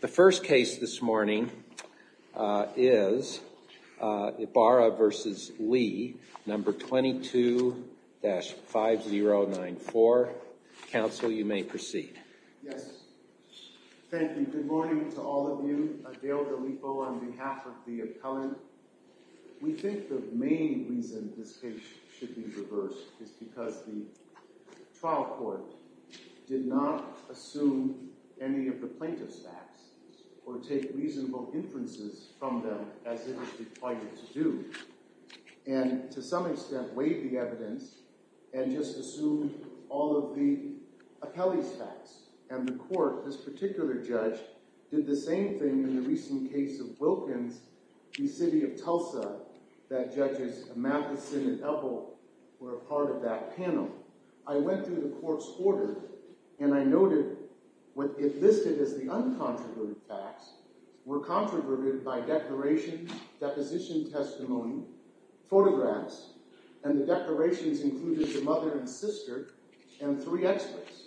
The first case this morning is Ibarra v. Lee, number 22-5094. Counsel, you may proceed. Yes. Thank you. Good morning to all of you. Dale DeLipo on behalf of the appellant. We think the main reason this case should be reversed is because the trial court did not assume any of the plaintiff's facts or take reasonable inferences from them as it is required to do and to some extent waived the evidence and just assumed all of the appellee's facts. And the court, this particular judge, did the same thing in the recent case of Wilkins v. City of Tulsa that Judges Matheson and Epple were a part of that panel. I went through the court's order and I noted what it listed as the uncontroverted facts were controverted by declaration, deposition testimony, photographs, and the declarations included the mother and sister and three experts.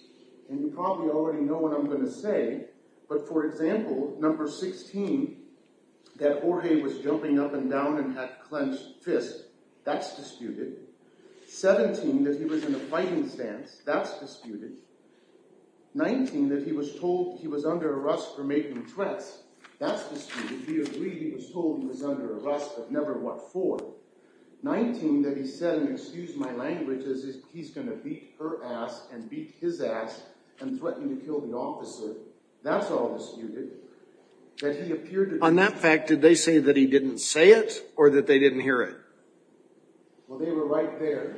And you probably already know what I'm going to say, but for example, number 16, that Jorge was jumping up and down and had clenched fists, that's disputed. 17, that he was in a fighting stance, that's disputed. 19, that he was told he was under arrest for making threats, that's disputed. He agreed he was told he was under arrest, but never what for. 19, that he said, and excuse my language, that he's going to beat her ass and beat his ass and threaten to kill the officer, that's all disputed. On that fact, did they say that he didn't say it or that they didn't hear it? Well, they were right there.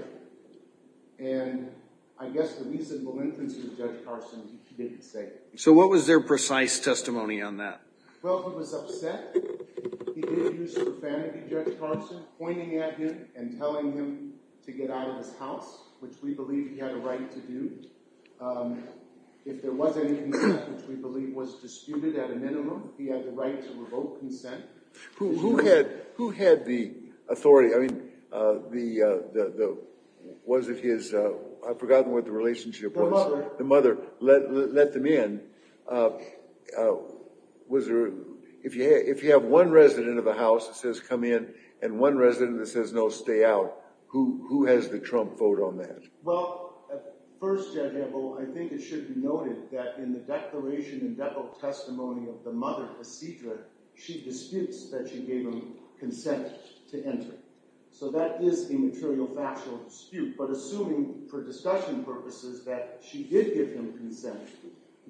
And I guess the reasonable inference of Judge Carson is he didn't say it. So what was their precise testimony on that? Well, he was upset. He did use profanity, Judge Carson, pointing at him and telling him to get out of his house, which we believe he had a right to do. If there was any consent, which we believe was disputed at a minimum, he had the right to revoke consent. Who had the authority? I mean, was it his—I've forgotten what the relationship was. The mother. The mother let them in. Was there—if you have one resident of the house that says come in and one resident that says no, stay out, who has the Trump vote on that? Well, first, Judge Edel, I think it should be noted that in the declaration of the mother, Isidro, she disputes that she gave him consent to enter. So that is a material factual dispute. But assuming for discussion purposes that she did give him consent,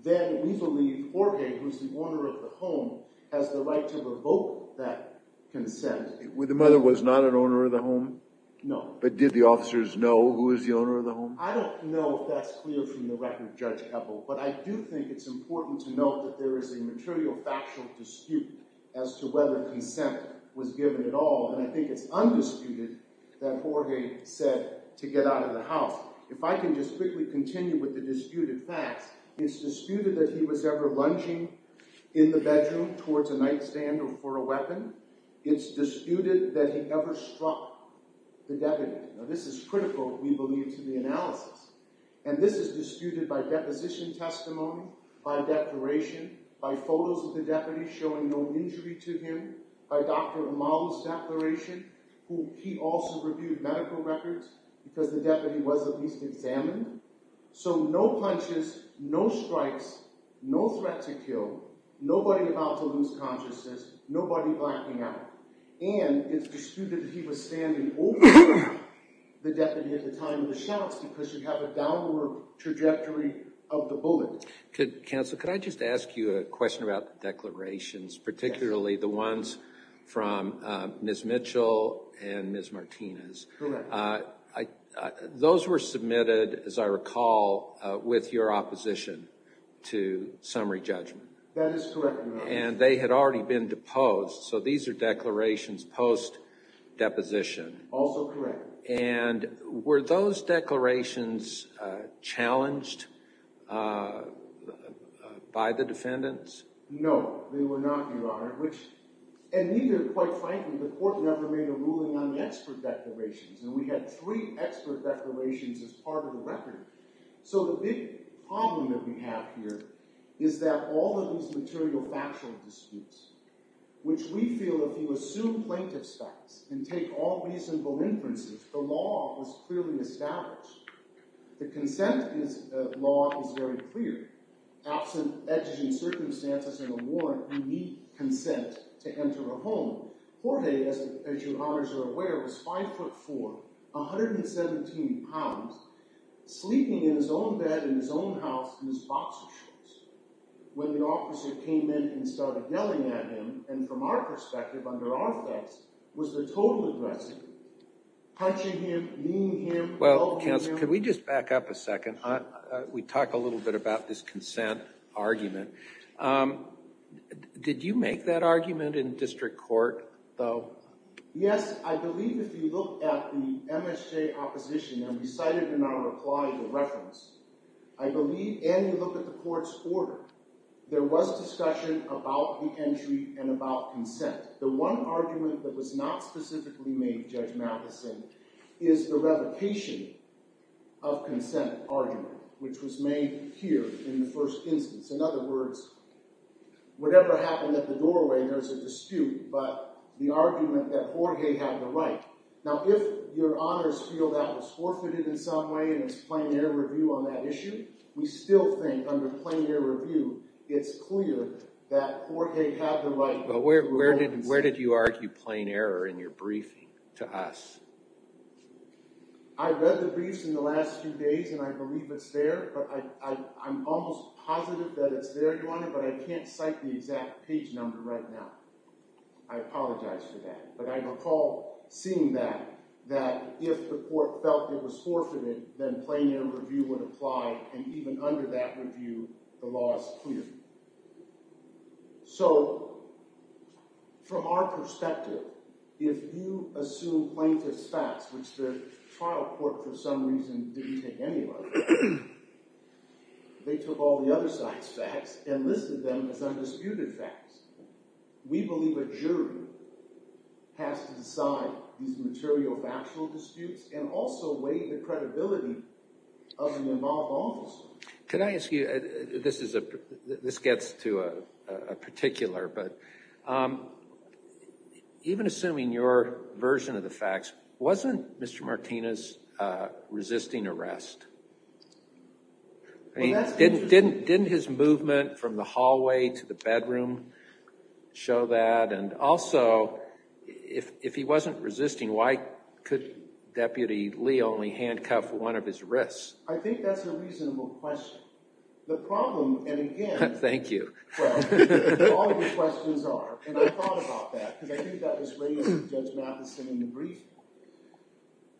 then we believe Orge, who is the owner of the home, has the right to revoke that consent. The mother was not an owner of the home? No. But did the officers know who was the owner of the home? I don't know if that's clear from the record, Judge Edel, but I do think it's important to note that there is a material factual dispute as to whether consent was given at all. And I think it's undisputed that Orge said to get out of the house. If I can just quickly continue with the disputed facts, it's disputed that he was ever lunging in the bedroom towards a nightstand or for a weapon. It's disputed that he ever struck the deputy. Now, this is critical, we believe, to the analysis. And this is disputed by deposition testimony, by declaration, by photos of the deputy showing no injury to him, by Dr. Amala's declaration, who he also reviewed medical records because the deputy was at least examined. So no punches, no strikes, no threat to kill, nobody about to lose consciousness, nobody blacking out. And it's disputed that he was standing over the deputy at the time of the shouts because you have a downward trajectory of the bullet. Counsel, could I just ask you a question about the declarations, particularly the ones from Ms. Mitchell and Ms. Martinez? Correct. Those were submitted, as I recall, with your opposition to summary judgment. That is correct, Your Honor. And they had already been deposed, so these are declarations post-deposition. Also correct. And were those declarations challenged by the defendants? No, they were not, Your Honor. And neither, quite frankly, the court never made a ruling on expert declarations, and we had three expert declarations as part of the record. So the big problem that we have here is that all of these material factual disputes, which we feel if you assume plaintiff's facts and take all reasonable inferences, the law is clearly established. The consent law is very clear. Absent edging circumstances and a warrant, you need consent to enter a home. Jorge, as Your Honors are aware, was 5'4", 117 pounds, sleeping in his own bed in his own house in his boxer shorts. When the officer came in and started yelling at him, and from our perspective, under our effects, was the total aggressor. Punching him, kneeling him, pelting him. Well, counsel, can we just back up a second? We talked a little bit about this consent argument. Did you make that argument in district court, though? Yes, I believe if you look at the MSJ opposition, and we cited in our reply the reference, I believe, and you look at the court's order, there was discussion about the entry and about consent. The one argument that was not specifically made, Judge Matheson, is the revocation of consent argument, which was made here in the first instance. In other words, whatever happened at the doorway, there's a dispute, but the argument that Jorge had the right. Now, if Your Honors feel that was forfeited in some way and it's plain error review on that issue, we still think under plain error review, it's clear that Jorge had the right to revoke consent. Well, where did you argue plain error in your briefing to us? I read the briefs in the last few days, and I believe it's there, but I'm almost positive that it's there, Your Honor, but I can't cite the exact page number right now. I apologize for that. But I recall seeing that, that if the court felt it was forfeited, then plain error review would apply, and even under that review, the law is clear. So from our perspective, if you assume plaintiff's facts, which the trial court for some reason didn't take any of, they took all the other side's facts and listed them as undisputed facts. We believe a jury has to decide these material factual disputes and also weigh the credibility of the involved officers. Can I ask you, this gets to a particular, but even assuming your version of the facts, wasn't Mr. Martinez resisting arrest? Didn't his movement from the hallway to the bedroom show that? And also, if he wasn't resisting, why could Deputy Lee only handcuff one of his wrists? I think that's a reasonable question. The problem, and again, all the questions are, and I thought about that because I think that was raised with Judge Matheson in the brief,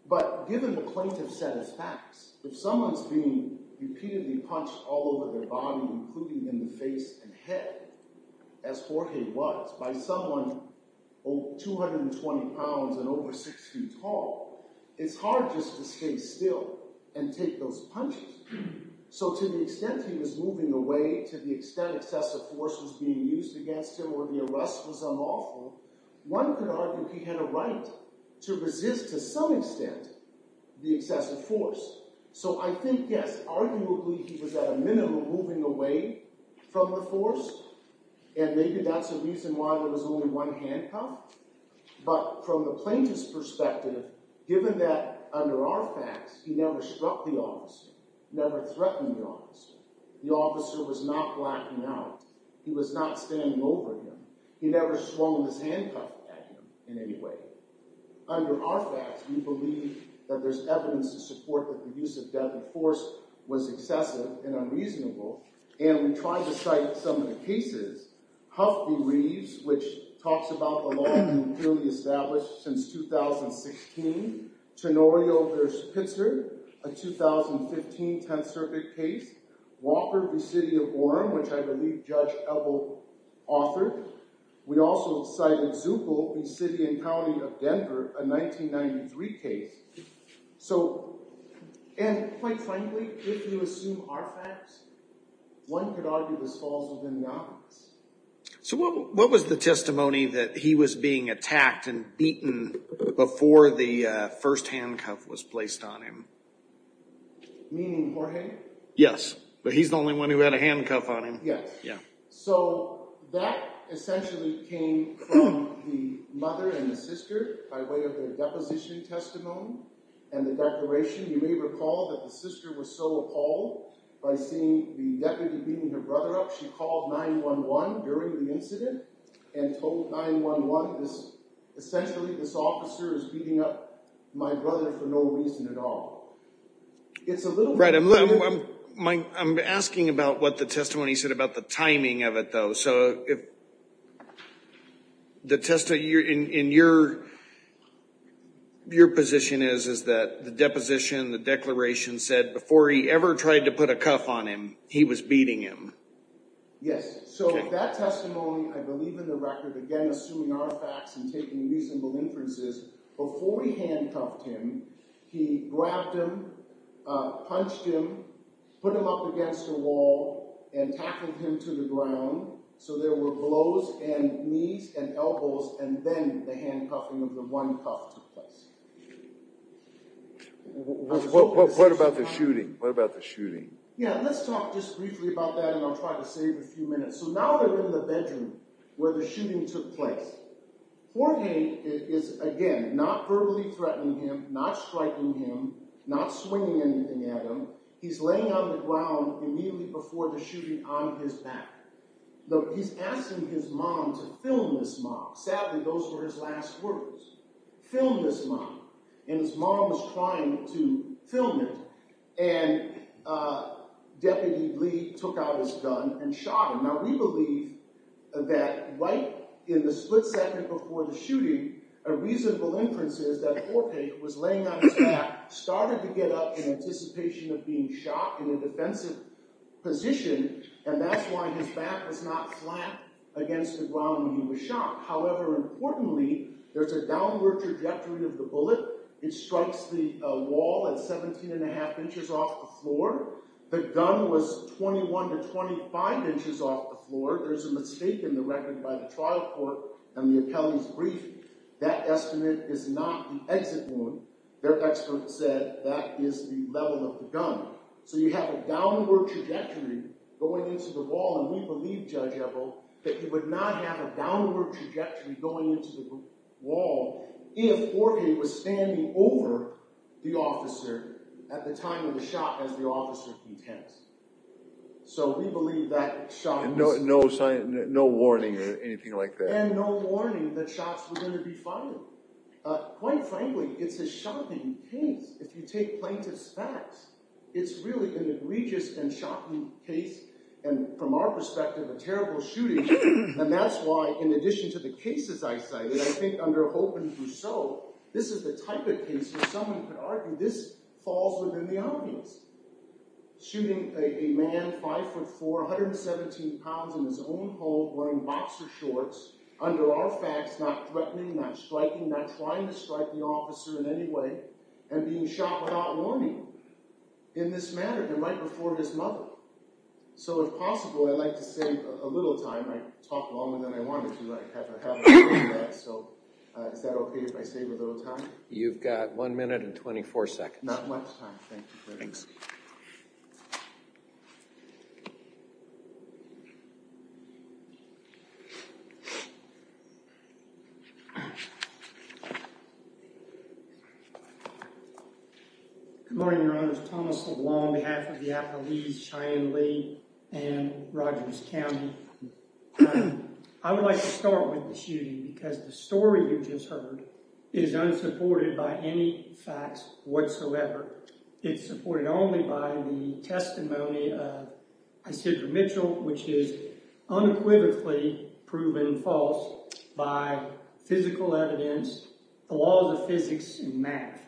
but given the plaintiff said his facts, if someone's being repeatedly punched all over their body, including in the face and head, as Jorge was, by someone 220 pounds and over 6 feet tall, it's hard just to stay still and take those punches. So to the extent he was moving away, to the extent excessive force was being used against him or the arrest was unlawful, one could argue he had a right to resist to some extent the excessive force. So I think, yes, arguably he was at a minimum moving away from the force, and maybe that's a reason why there was only one handcuff, but from the plaintiff's perspective, given that under our facts, he never struck the officer, never threatened the officer. The officer was not blacking out. He was not standing over him. He never swung his handcuff at him in any way. Under our facts, we believe that there's evidence to support that the use of deadly force was excessive and unreasonable, and we tried to cite some of the cases. Huff v. Reeves, which talks about the law being purely established since 2016, Tenorio v. Pitzer, a 2015 Tenth Circuit case, Walker v. City of Orem, which I believe Judge Ebel authored. We also cited Zupel v. City and County of Denver, a 1993 case. And quite frankly, if you assume our facts, one could argue this falls within the obvious. So what was the testimony that he was being attacked and beaten before the first handcuff was placed on him? Meaning Jorge? Yes, but he's the only one who had a handcuff on him. Yes. So that essentially came from the mother and the sister by way of their deposition testimony and the declaration. You may recall that the sister was so appalled by seeing the deputy beating her brother up, she called 911 during the incident and told 911, essentially this officer is beating up my brother for no reason at all. Right, I'm asking about what the testimony said, about the timing of it, though. So the testimony in your position is that the deposition, the declaration said before he ever tried to put a cuff on him, he was beating him. Yes, so that testimony, I believe in the record, again assuming our facts and taking reasonable inferences, before we handcuffed him, he grabbed him, punched him, put him up against a wall and tackled him to the ground so there were blows in knees and elbows and then the handcuffing of the one cuff took place. What about the shooting? Yeah, let's talk just briefly about that and I'll try to save a few minutes. So now they're in the bedroom where the shooting took place. Jorge is, again, not verbally threatening him, not striking him, not swinging anything at him. He's laying on the ground immediately before the shooting on his back. Look, he's asking his mom to film this mom. Sadly, those were his last words. Film this mom. And his mom was trying to film him and Deputy Lee took out his gun and shot him. Now we believe that right in the split second before the shooting, a reasonable inference is that Jorge was laying on his back, started to get up in anticipation of being shot in a defensive position and that's why his back was not flat against the ground when he was shot. However, importantly, there's a downward trajectory of the bullet. It strikes the wall at 17 1⁄2 inches off the floor. The gun was 21 to 25 inches off the floor. There's a mistake in the record by the trial court and the appellee's brief. That estimate is not the exit one. Their expert said that is the level of the gun. So you have a downward trajectory going into the wall and we believe, Judge Ebel, that you would not have a downward trajectory going into the wall if Jorge was standing over the officer at the time of the shot as the officer contends. So we believe that shot was- No warning or anything like that. And no warning that shots were going to be fired. Quite frankly, it's a shocking case. If you take plaintiff's facts, it's really an egregious and shocking case and from our perspective, a terrible shooting and that's why in addition to the cases I cited, I think under Hope and Brousseau, this is the type of case where someone could argue this falls within the audience. Shooting a man 5'4", 117 pounds in his own home wearing boxer shorts under our facts, not threatening, not striking, not trying to strike the officer in any way and being shot without warning in this matter and right before his mother. So if possible, I'd like to save a little time. I talked longer than I wanted to. I have a habit of doing that. So is that okay if I save a little time? You've got one minute and 24 seconds. Not much time. Thank you very much. Thanks. Good morning, Your Honors. Thomas LeBlanc on behalf of the Appalachians, Cheyenne Lee and Rogers County. I would like to start with the shooting because the story you just heard is unsupported by any facts whatsoever. It's supported only by the testimony of Isidro Mitchell, which is unequivocally proven false by physical evidence, the laws of physics and math.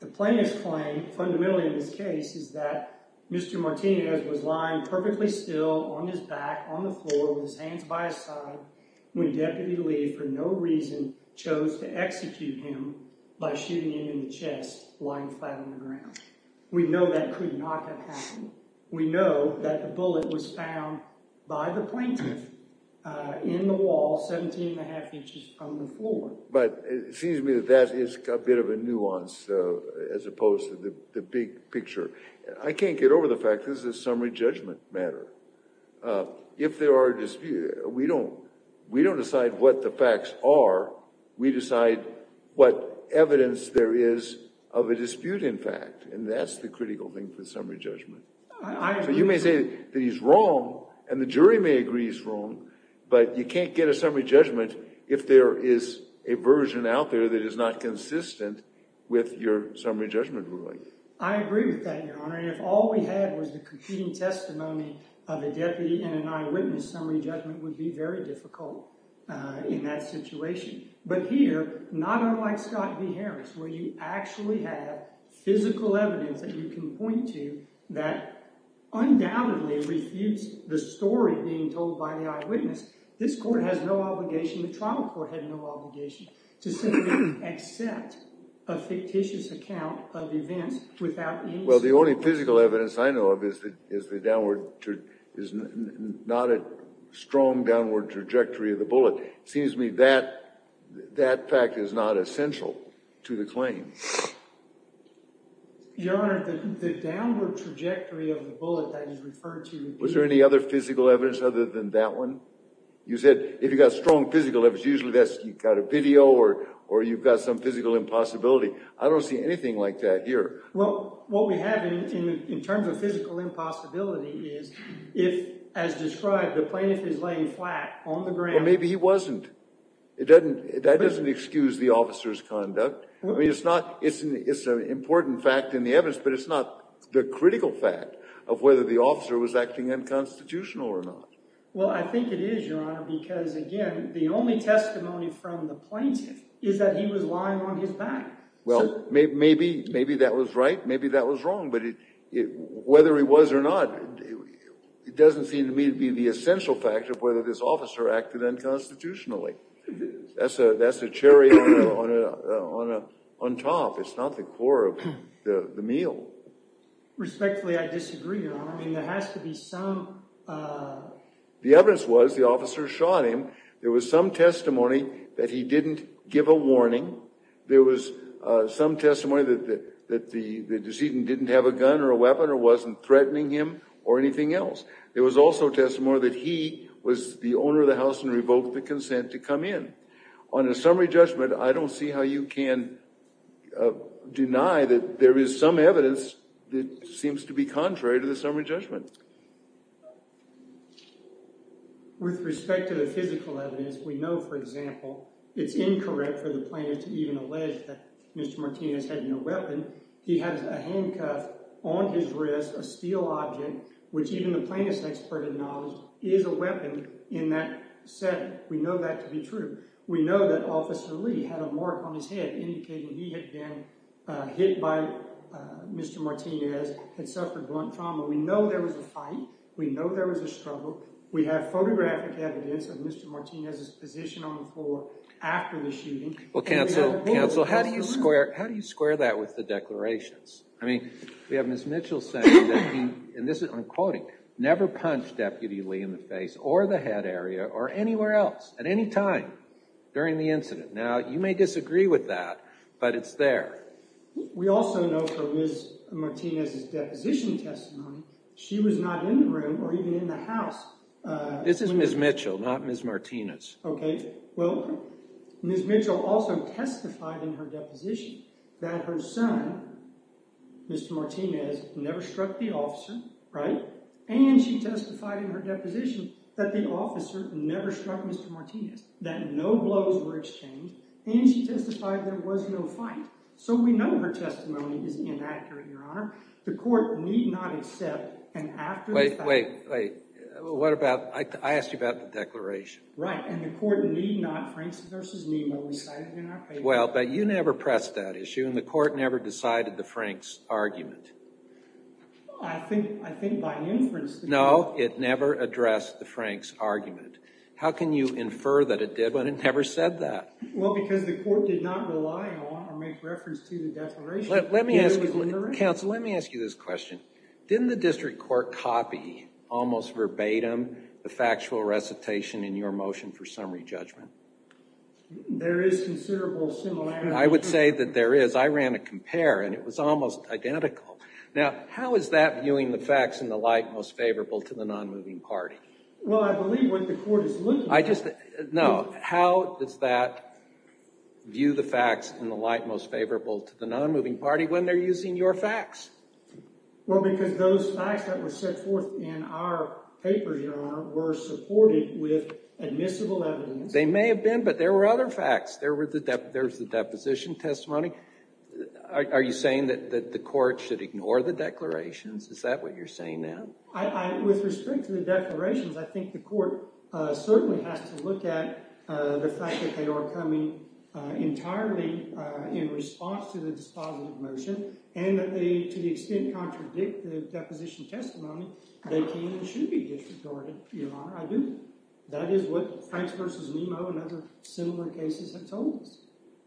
The plaintiff's claim fundamentally in this case is that Mr. Martinez was lying perfectly still on his back on the floor with his hands by his side when Deputy Lee for no reason chose to execute him by shooting him in the chest lying flat on the ground. We know that could not have happened. We know that the bullet was found by the plaintiff in the wall 17 and a half inches from the floor. But it seems to me that that is a bit of a nuance as opposed to the big picture. I can't get over the fact that this is a summary judgment matter. If there are disputes, we don't decide what the facts are. We decide what evidence there is of a dispute in fact. And that's the critical thing for summary judgment. You may say that he's wrong and the jury may agree he's wrong, but you can't get a summary judgment if there is a version out there that is not consistent with your summary judgment ruling. I agree with that, Your Honor. If all we had was the competing testimony of a deputy and an eyewitness, summary judgment would be very difficult in that situation. But here, not unlike Scott v. Harris, where you actually have physical evidence that you can point to that undoubtedly refutes the story being told by the eyewitness, this court has no obligation, the trial court had no obligation, to simply accept a fictitious account of events without any sort of evidence. Well, the only physical evidence I know of is not a strong downward trajectory of the bullet. It seems to me that that fact is not essential to the claim. Your Honor, the downward trajectory of the bullet that is referred to would be— Was there any other physical evidence other than that one? You said if you've got strong physical evidence, usually you've got a video or you've got some physical impossibility. I don't see anything like that here. Well, what we have in terms of physical impossibility is if, as described, the plaintiff is laying flat on the ground— Well, maybe he wasn't. That doesn't excuse the officer's conduct. I mean, it's an important fact in the evidence, but it's not the critical fact of whether the officer was acting unconstitutional or not. Well, I think it is, Your Honor, because, again, the only testimony from the plaintiff is that he was lying on his back. Well, maybe that was right, maybe that was wrong, but whether he was or not, it doesn't seem to me to be the essential fact of whether this officer acted unconstitutionally. That's a cherry on top. It's not the core of the meal. Respectfully, I disagree, Your Honor. I mean, there has to be some— The evidence was the officer shot him. There was some testimony that he didn't give a warning. There was some testimony that the decedent didn't have a gun or a weapon or wasn't threatening him or anything else. There was also testimony that he was the owner of the house and revoked the consent to come in. On a summary judgment, I don't see how you can deny that there is some evidence that seems to be contrary to the summary judgment. With respect to the physical evidence, we know, for example, it's incorrect for the plaintiff to even allege that Mr. Martinez had no weapon. He has a handcuff on his wrist, a steel object, which even the plaintiff's expert acknowledged is a weapon in that setting. We know that to be true. We know that Officer Lee had a mark on his head indicating he had been hit by Mr. Martinez, had suffered blunt trauma. We know there was a fight. We know there was a struggle. We have photographic evidence of Mr. Martinez's position on the floor after the shooting. Well, counsel, counsel, how do you square that with the declarations? I mean, we have Ms. Mitchell saying that he, and I'm quoting, never punched Deputy Lee in the face or the head area or anywhere else at any time during the incident. Now, you may disagree with that, but it's there. We also know from Ms. Martinez's deposition testimony, she was not in the room or even in the house. This is Ms. Mitchell, not Ms. Martinez. Okay. Well, Ms. Mitchell also testified in her deposition that her son, Mr. Martinez, never struck the officer, right? And she testified in her deposition that the officer never struck Mr. Martinez, that no blows were exchanged. And she testified there was no fight. So we know her testimony is inaccurate, Your Honor. The court need not accept an after the fact— Wait, wait, wait. What about—I asked you about the declaration. Right, and the court need not, Franks v. Nemo, recite it in our favor. Well, but you never pressed that issue, and the court never decided the Franks argument. I think by inference— No, it never addressed the Franks argument. How can you infer that it did when it never said that? Well, because the court did not rely on or make reference to the declaration. Counsel, let me ask you this question. Didn't the district court copy, almost verbatim, the factual recitation in your motion for summary judgment? There is considerable similarity. I would say that there is. I ran a compare, and it was almost identical. Now, how is that viewing the facts in the light most favorable to the nonmoving party? Well, I believe what the court is looking for— I just—no. How does that view the facts in the light most favorable to the nonmoving party when they're using your facts? Well, because those facts that were set forth in our paper, Your Honor, were supported with admissible evidence. They may have been, but there were other facts. There was the deposition testimony. Are you saying that the court should ignore the declarations? Is that what you're saying now? With respect to the declarations, I think the court certainly has to look at the fact that they are coming entirely in response to the dispositive motion and that they, to the extent, contradict the deposition testimony, they can and should be disregarded, Your Honor. That is what Franks v. Nemo and other similar cases have told us.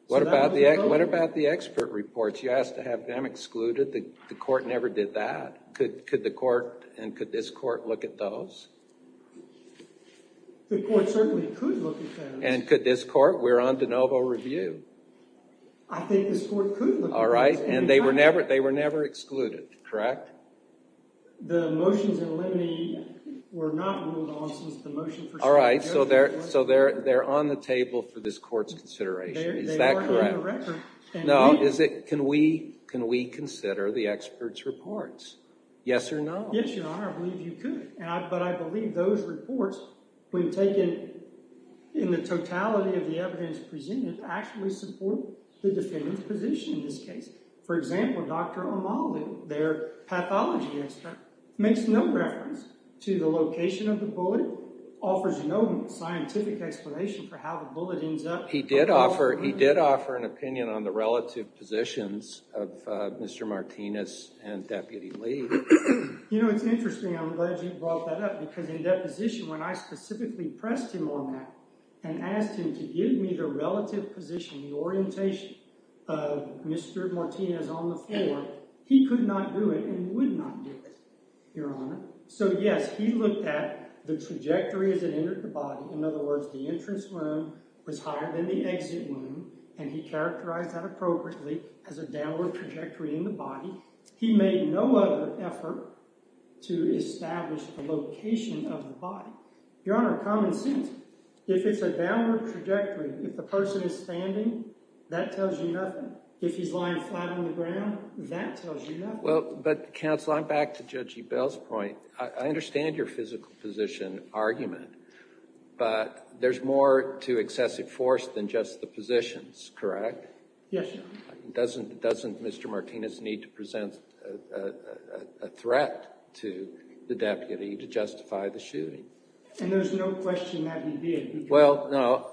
What about the expert reports? You asked to have them excluded. The court never did that. Could the court and could this court look at those? The court certainly could look at those. And could this court? We're on de novo review. I think this court could look at those. All right, and they were never excluded, correct? The motions in limine were not ruled off since the motion for— All right, so they're on the table for this court's consideration. Is that correct? They are on the record. Can we consider the experts' reports? Yes or no? Yes, Your Honor. I believe you could. But I believe those reports, when taken in the totality of the evidence presented, actually support the defendant's position in this case. For example, Dr. O'Malley, their pathology expert, makes no reference to the location of the bullet, offers no scientific explanation for how the bullet ends up— He did offer an opinion on the relative positions of Mr. Martinez and Deputy Lee. You know, it's interesting. I'm glad you brought that up because in that position, when I specifically pressed him on that and asked him to give me the relative position, the orientation of Mr. Martinez on the floor, he could not do it and would not do it, Your Honor. So, yes, he looked at the trajectory as it entered the body. In other words, the entrance wound was higher than the exit wound, and he characterized that appropriately as a downward trajectory in the body. He made no other effort to establish the location of the body. Your Honor, common sense. If it's a downward trajectory, if the person is standing, that tells you nothing. If he's lying flat on the ground, that tells you nothing. Well, but, counsel, I'm back to Judge Ebell's point. I understand your physical position argument, but there's more to excessive force than just the positions, correct? Yes, Your Honor. Doesn't Mr. Martinez need to present a threat to the deputy to justify the shooting? And there's no question that he did. Well, no,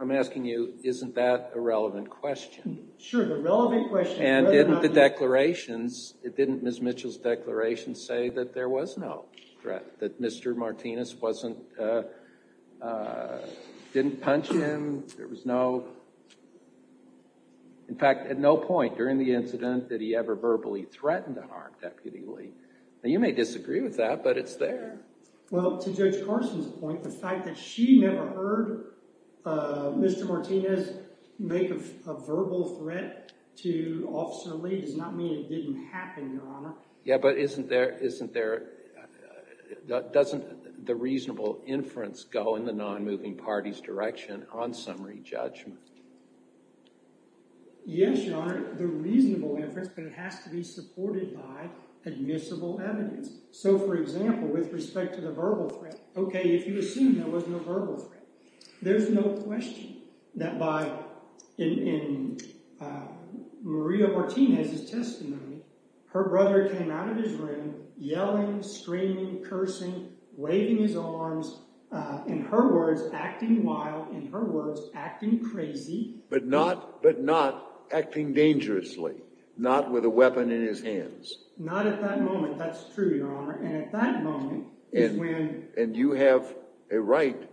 I'm asking you, isn't that a relevant question? Sure, the relevant question— And didn't the declarations—didn't Ms. Mitchell's declaration say that there was no threat, that Mr. Martinez wasn't—didn't punch him? There was no—in fact, at no point during the incident did he ever verbally threaten to harm Deputy Lee. Now, you may disagree with that, but it's there. Well, to Judge Carson's point, the fact that she never heard Mr. Martinez make a verbal threat to Officer Lee does not mean it didn't happen, Your Honor. Yeah, but isn't there—doesn't the reasonable inference go in the non-moving party's direction on summary judgment? Yes, Your Honor, the reasonable inference, but it has to be supported by admissible evidence. So, for example, with respect to the verbal threat, okay, if you assume there was no verbal threat, there's no question that by—in Maria Martinez's testimony, her brother came out of his room yelling, screaming, cursing, waving his arms, in her words, acting wild, in her words, acting crazy. But not—but not acting dangerously, not with a weapon in his hands. Not at that moment, that's true, Your Honor, and at that moment is when— And you have a right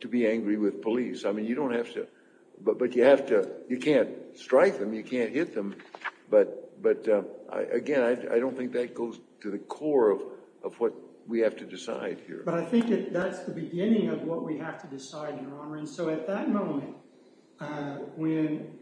to be angry with police. I mean, you don't have to—but you have to—you can't strike them, you can't hit them, but again, I don't think that goes to the core of what we have to decide here. But I think that that's the beginning of what we have to decide, Your Honor, and so at that moment, when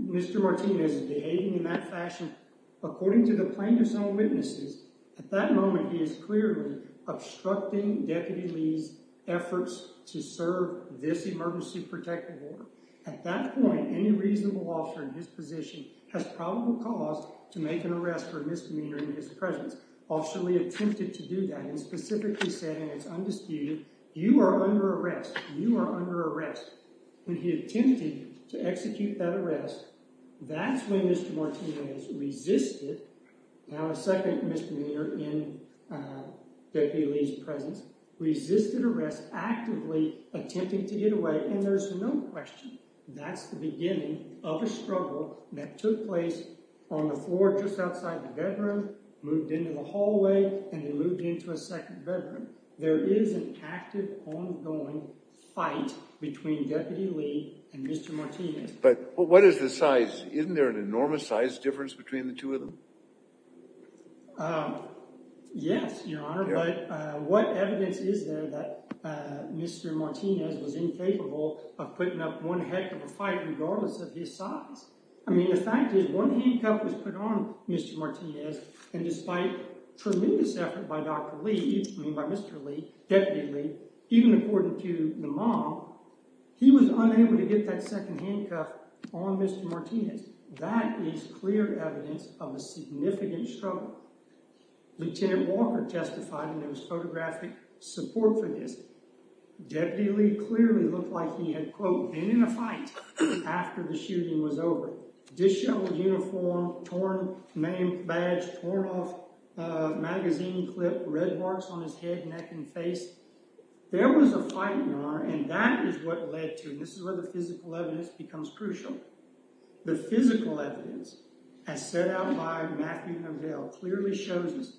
Mr. Martinez is behaving in that fashion, according to the plaintiffs' own witnesses, at that moment he is clearly obstructing Deputy Lee's efforts to serve this emergency protective order. At that point, any reasonable officer in his position has probable cause to make an arrest for a misdemeanor in his presence. Officer Lee attempted to do that and specifically said in its undisputed, you are under arrest, you are under arrest. When he attempted to execute that arrest, that's when Mr. Martinez resisted—now a second misdemeanor in Deputy Lee's presence—resisted arrest, actively attempting to get away, and there's no question that's the beginning of a struggle that took place on the floor just outside the bedroom, moved into the hallway, and then moved into a second bedroom. There is an active, ongoing fight between Deputy Lee and Mr. Martinez. But what is the size? Isn't there an enormous size difference between the two of them? Yes, Your Honor, but what evidence is there that Mr. Martinez was incapable of putting up one heck of a fight regardless of his size? I mean, the fact is one handcuff was put on Mr. Martinez and despite tremendous effort by Dr. Lee, I mean by Mr. Lee, Deputy Lee, even according to the mob, he was unable to get that second handcuff on Mr. Martinez. That is clear evidence of a significant struggle. Lieutenant Walker testified and there was photographic support for this. Deputy Lee clearly looked like he had, quote, been in a fight after the shooting was over. Disheveled uniform, torn name badge, torn off magazine clip, red marks on his head, neck, and face. There was a fight, Your Honor, and that is what led to—and this is where the physical evidence becomes crucial. The physical evidence, as set out by Matthew Hovell, clearly shows us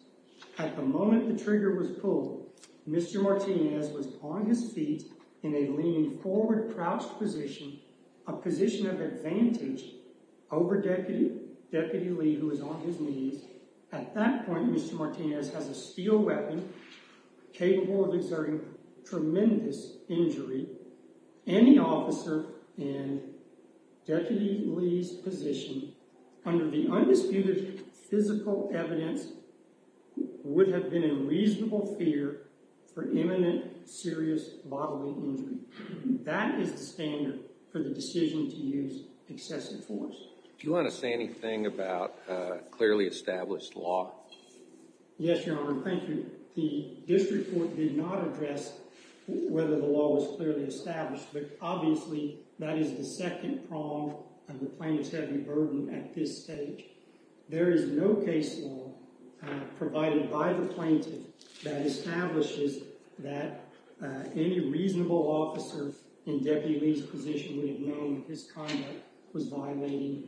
at the moment the trigger was pulled, Mr. Martinez was on his feet in a leaning forward, crouched position, a position of advantage over Deputy Lee, who was on his knees. At that point, Mr. Martinez has a steel weapon capable of exerting tremendous injury. Any officer in Deputy Lee's position under the undisputed physical evidence would have been in reasonable fear for imminent serious bodily injury. That is the standard for the decision to use excessive force. Do you want to say anything about clearly established law? Yes, Your Honor. Thank you. This report did not address whether the law was clearly established, but obviously that is the second prong of the plaintiff's heavy burden at this stage. There is no case law provided by the plaintiff that establishes that any reasonable officer in Deputy Lee's position would have known that his conduct was violating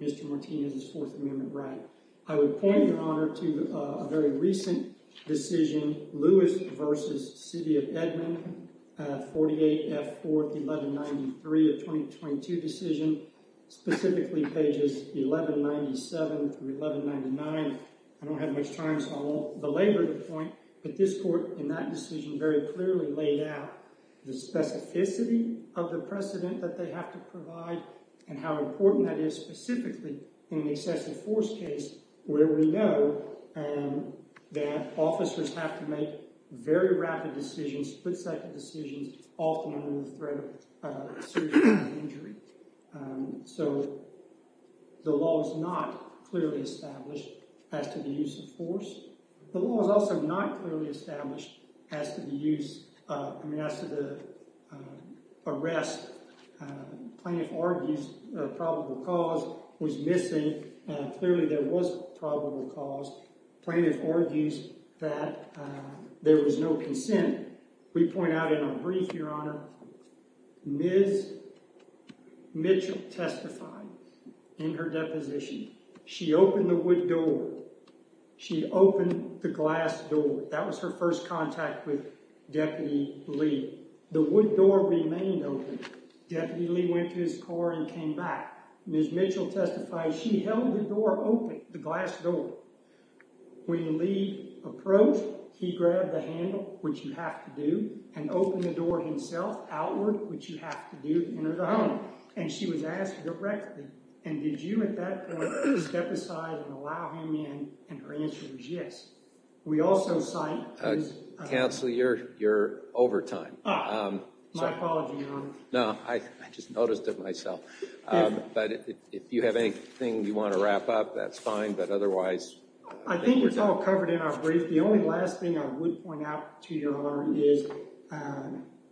Mr. Martinez's Fourth Amendment right. I would point, Your Honor, to a very recent decision, Lewis v. City of Edmond, 48F4-1193, a 2022 decision, specifically pages 1197 through 1199. I don't have much time, so I won't belabor the point, but this court in that decision very clearly laid out the specificity of the precedent that they have to provide and how important that is, specifically in the excessive force case where we know that officers have to make very rapid decisions, split-second decisions, often under the threat of serious bodily injury. So the law is not clearly established as to the use of force. The law is also not clearly established as to the use – I mean, as to the arrest. Plaintiff argues a probable cause was missing. Clearly, there was a probable cause. Plaintiff argues that there was no consent. We point out in our brief, Your Honor, Ms. Mitchell testified in her deposition. She opened the wood door. She opened the glass door. That was her first contact with Deputy Lee. The wood door remained open. Deputy Lee went to his car and came back. Ms. Mitchell testified she held the door open, the glass door. When Lee approached, he grabbed the handle, which you have to do, and opened the door himself, outward, which you have to do to enter the home. And she was asked directly, and did you at that point step aside and allow him in? And her answer was yes. We also cite – Counsel, you're over time. My apologies, Your Honor. No, I just noticed it myself. But if you have anything you want to wrap up, that's fine, but otherwise – I think it's all covered in our brief. The only last thing I would point out to Your Honor is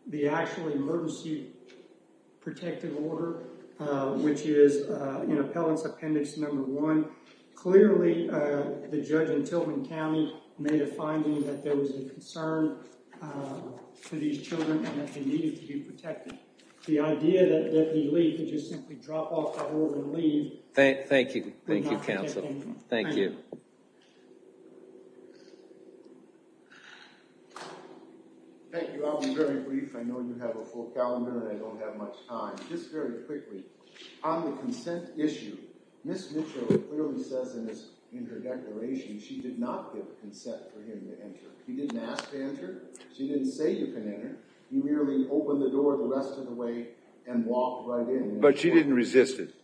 the actual emergency protective order, which is in Appellant's Appendix No. 1. Clearly, the judge in Tilghman County made a finding that there was a concern for these children and that they needed to be protected. The idea that Deputy Lee could just simply drop off the hold and leave – Thank you. Thank you, Counsel. Thank you. Thank you. I'll be very brief. I know you have a full calendar and I don't have much time. Just very quickly, on the consent issue, Ms. Mitchell clearly says in her declaration she did not give consent for him to enter. He didn't ask to enter. She didn't say you can enter. He merely opened the door the rest of the way and walked right in. But she didn't resist it.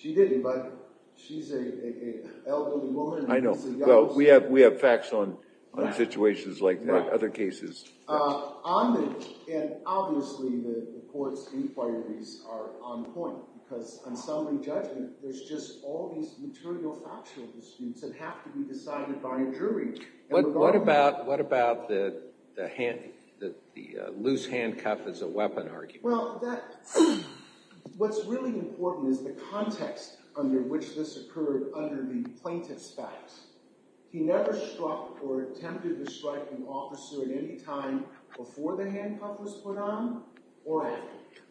She didn't, but she's an elderly woman. I know. We have facts on situations like that, other cases. Obviously, the court's inquiries are on point because on summary judgment, there's just all these material factual disputes that have to be decided by a jury. What about the loose handcuff as a weapon argument? Well, what's really important is the context under which this occurred under the plaintiff's facts. He never struck or attempted to strike an officer at any time before the handcuff was put on or after.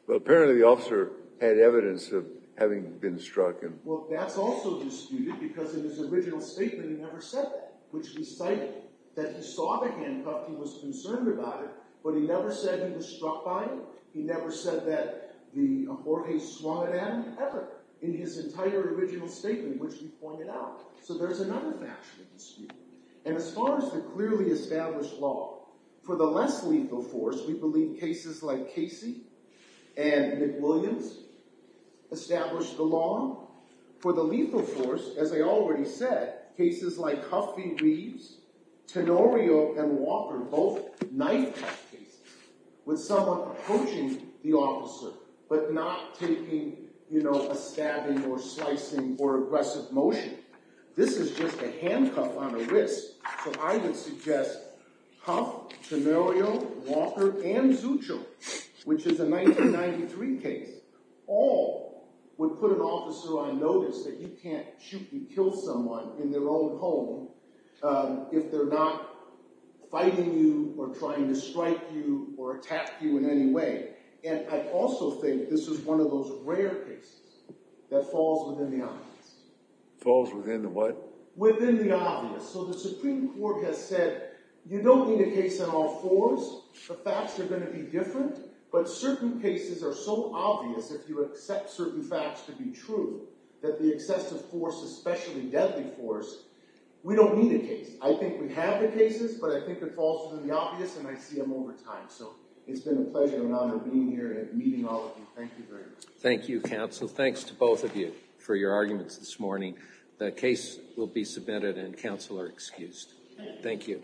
Well, apparently the officer had evidence of having been struck. Well, that's also disputed because in his original statement he never said that, which we cite that he saw the handcuff. He was concerned about it, but he never said he was struck by it. He never said that Jorge swung at Adam ever in his entire original statement, which we pointed out. So there's another factual dispute. And as far as the clearly established law, for the less lethal force, we believe cases like Casey and McWilliams established the law. For the lethal force, as I already said, cases like Huffey, Reeves, Tenorio, and Walker, both knife-cut cases with someone approaching the officer but not taking a stabbing or slicing or aggressive motion. This is just a handcuff on a wrist. So I would suggest Huff, Tenorio, Walker, and Zuccio, which is a 1993 case, all would put an officer on notice that you can't shoot and kill someone in their own home if they're not fighting you or trying to strike you or attack you in any way. And I also think this is one of those rare cases that falls within the obvious. Falls within the what? Within the obvious. So the Supreme Court has said, you don't need a case on all fours. The facts are going to be different. But certain cases are so obvious, if you accept certain facts to be true, that the excessive force, especially deadly force, we don't need a case. I think we have the cases, but I think it falls within the obvious, and I see them over time. So it's been a pleasure and honor being here and meeting all of you. Thank you very much. Thank you, counsel. Thanks to both of you for your arguments this morning. The case will be submitted and counsel are excused. Thank you.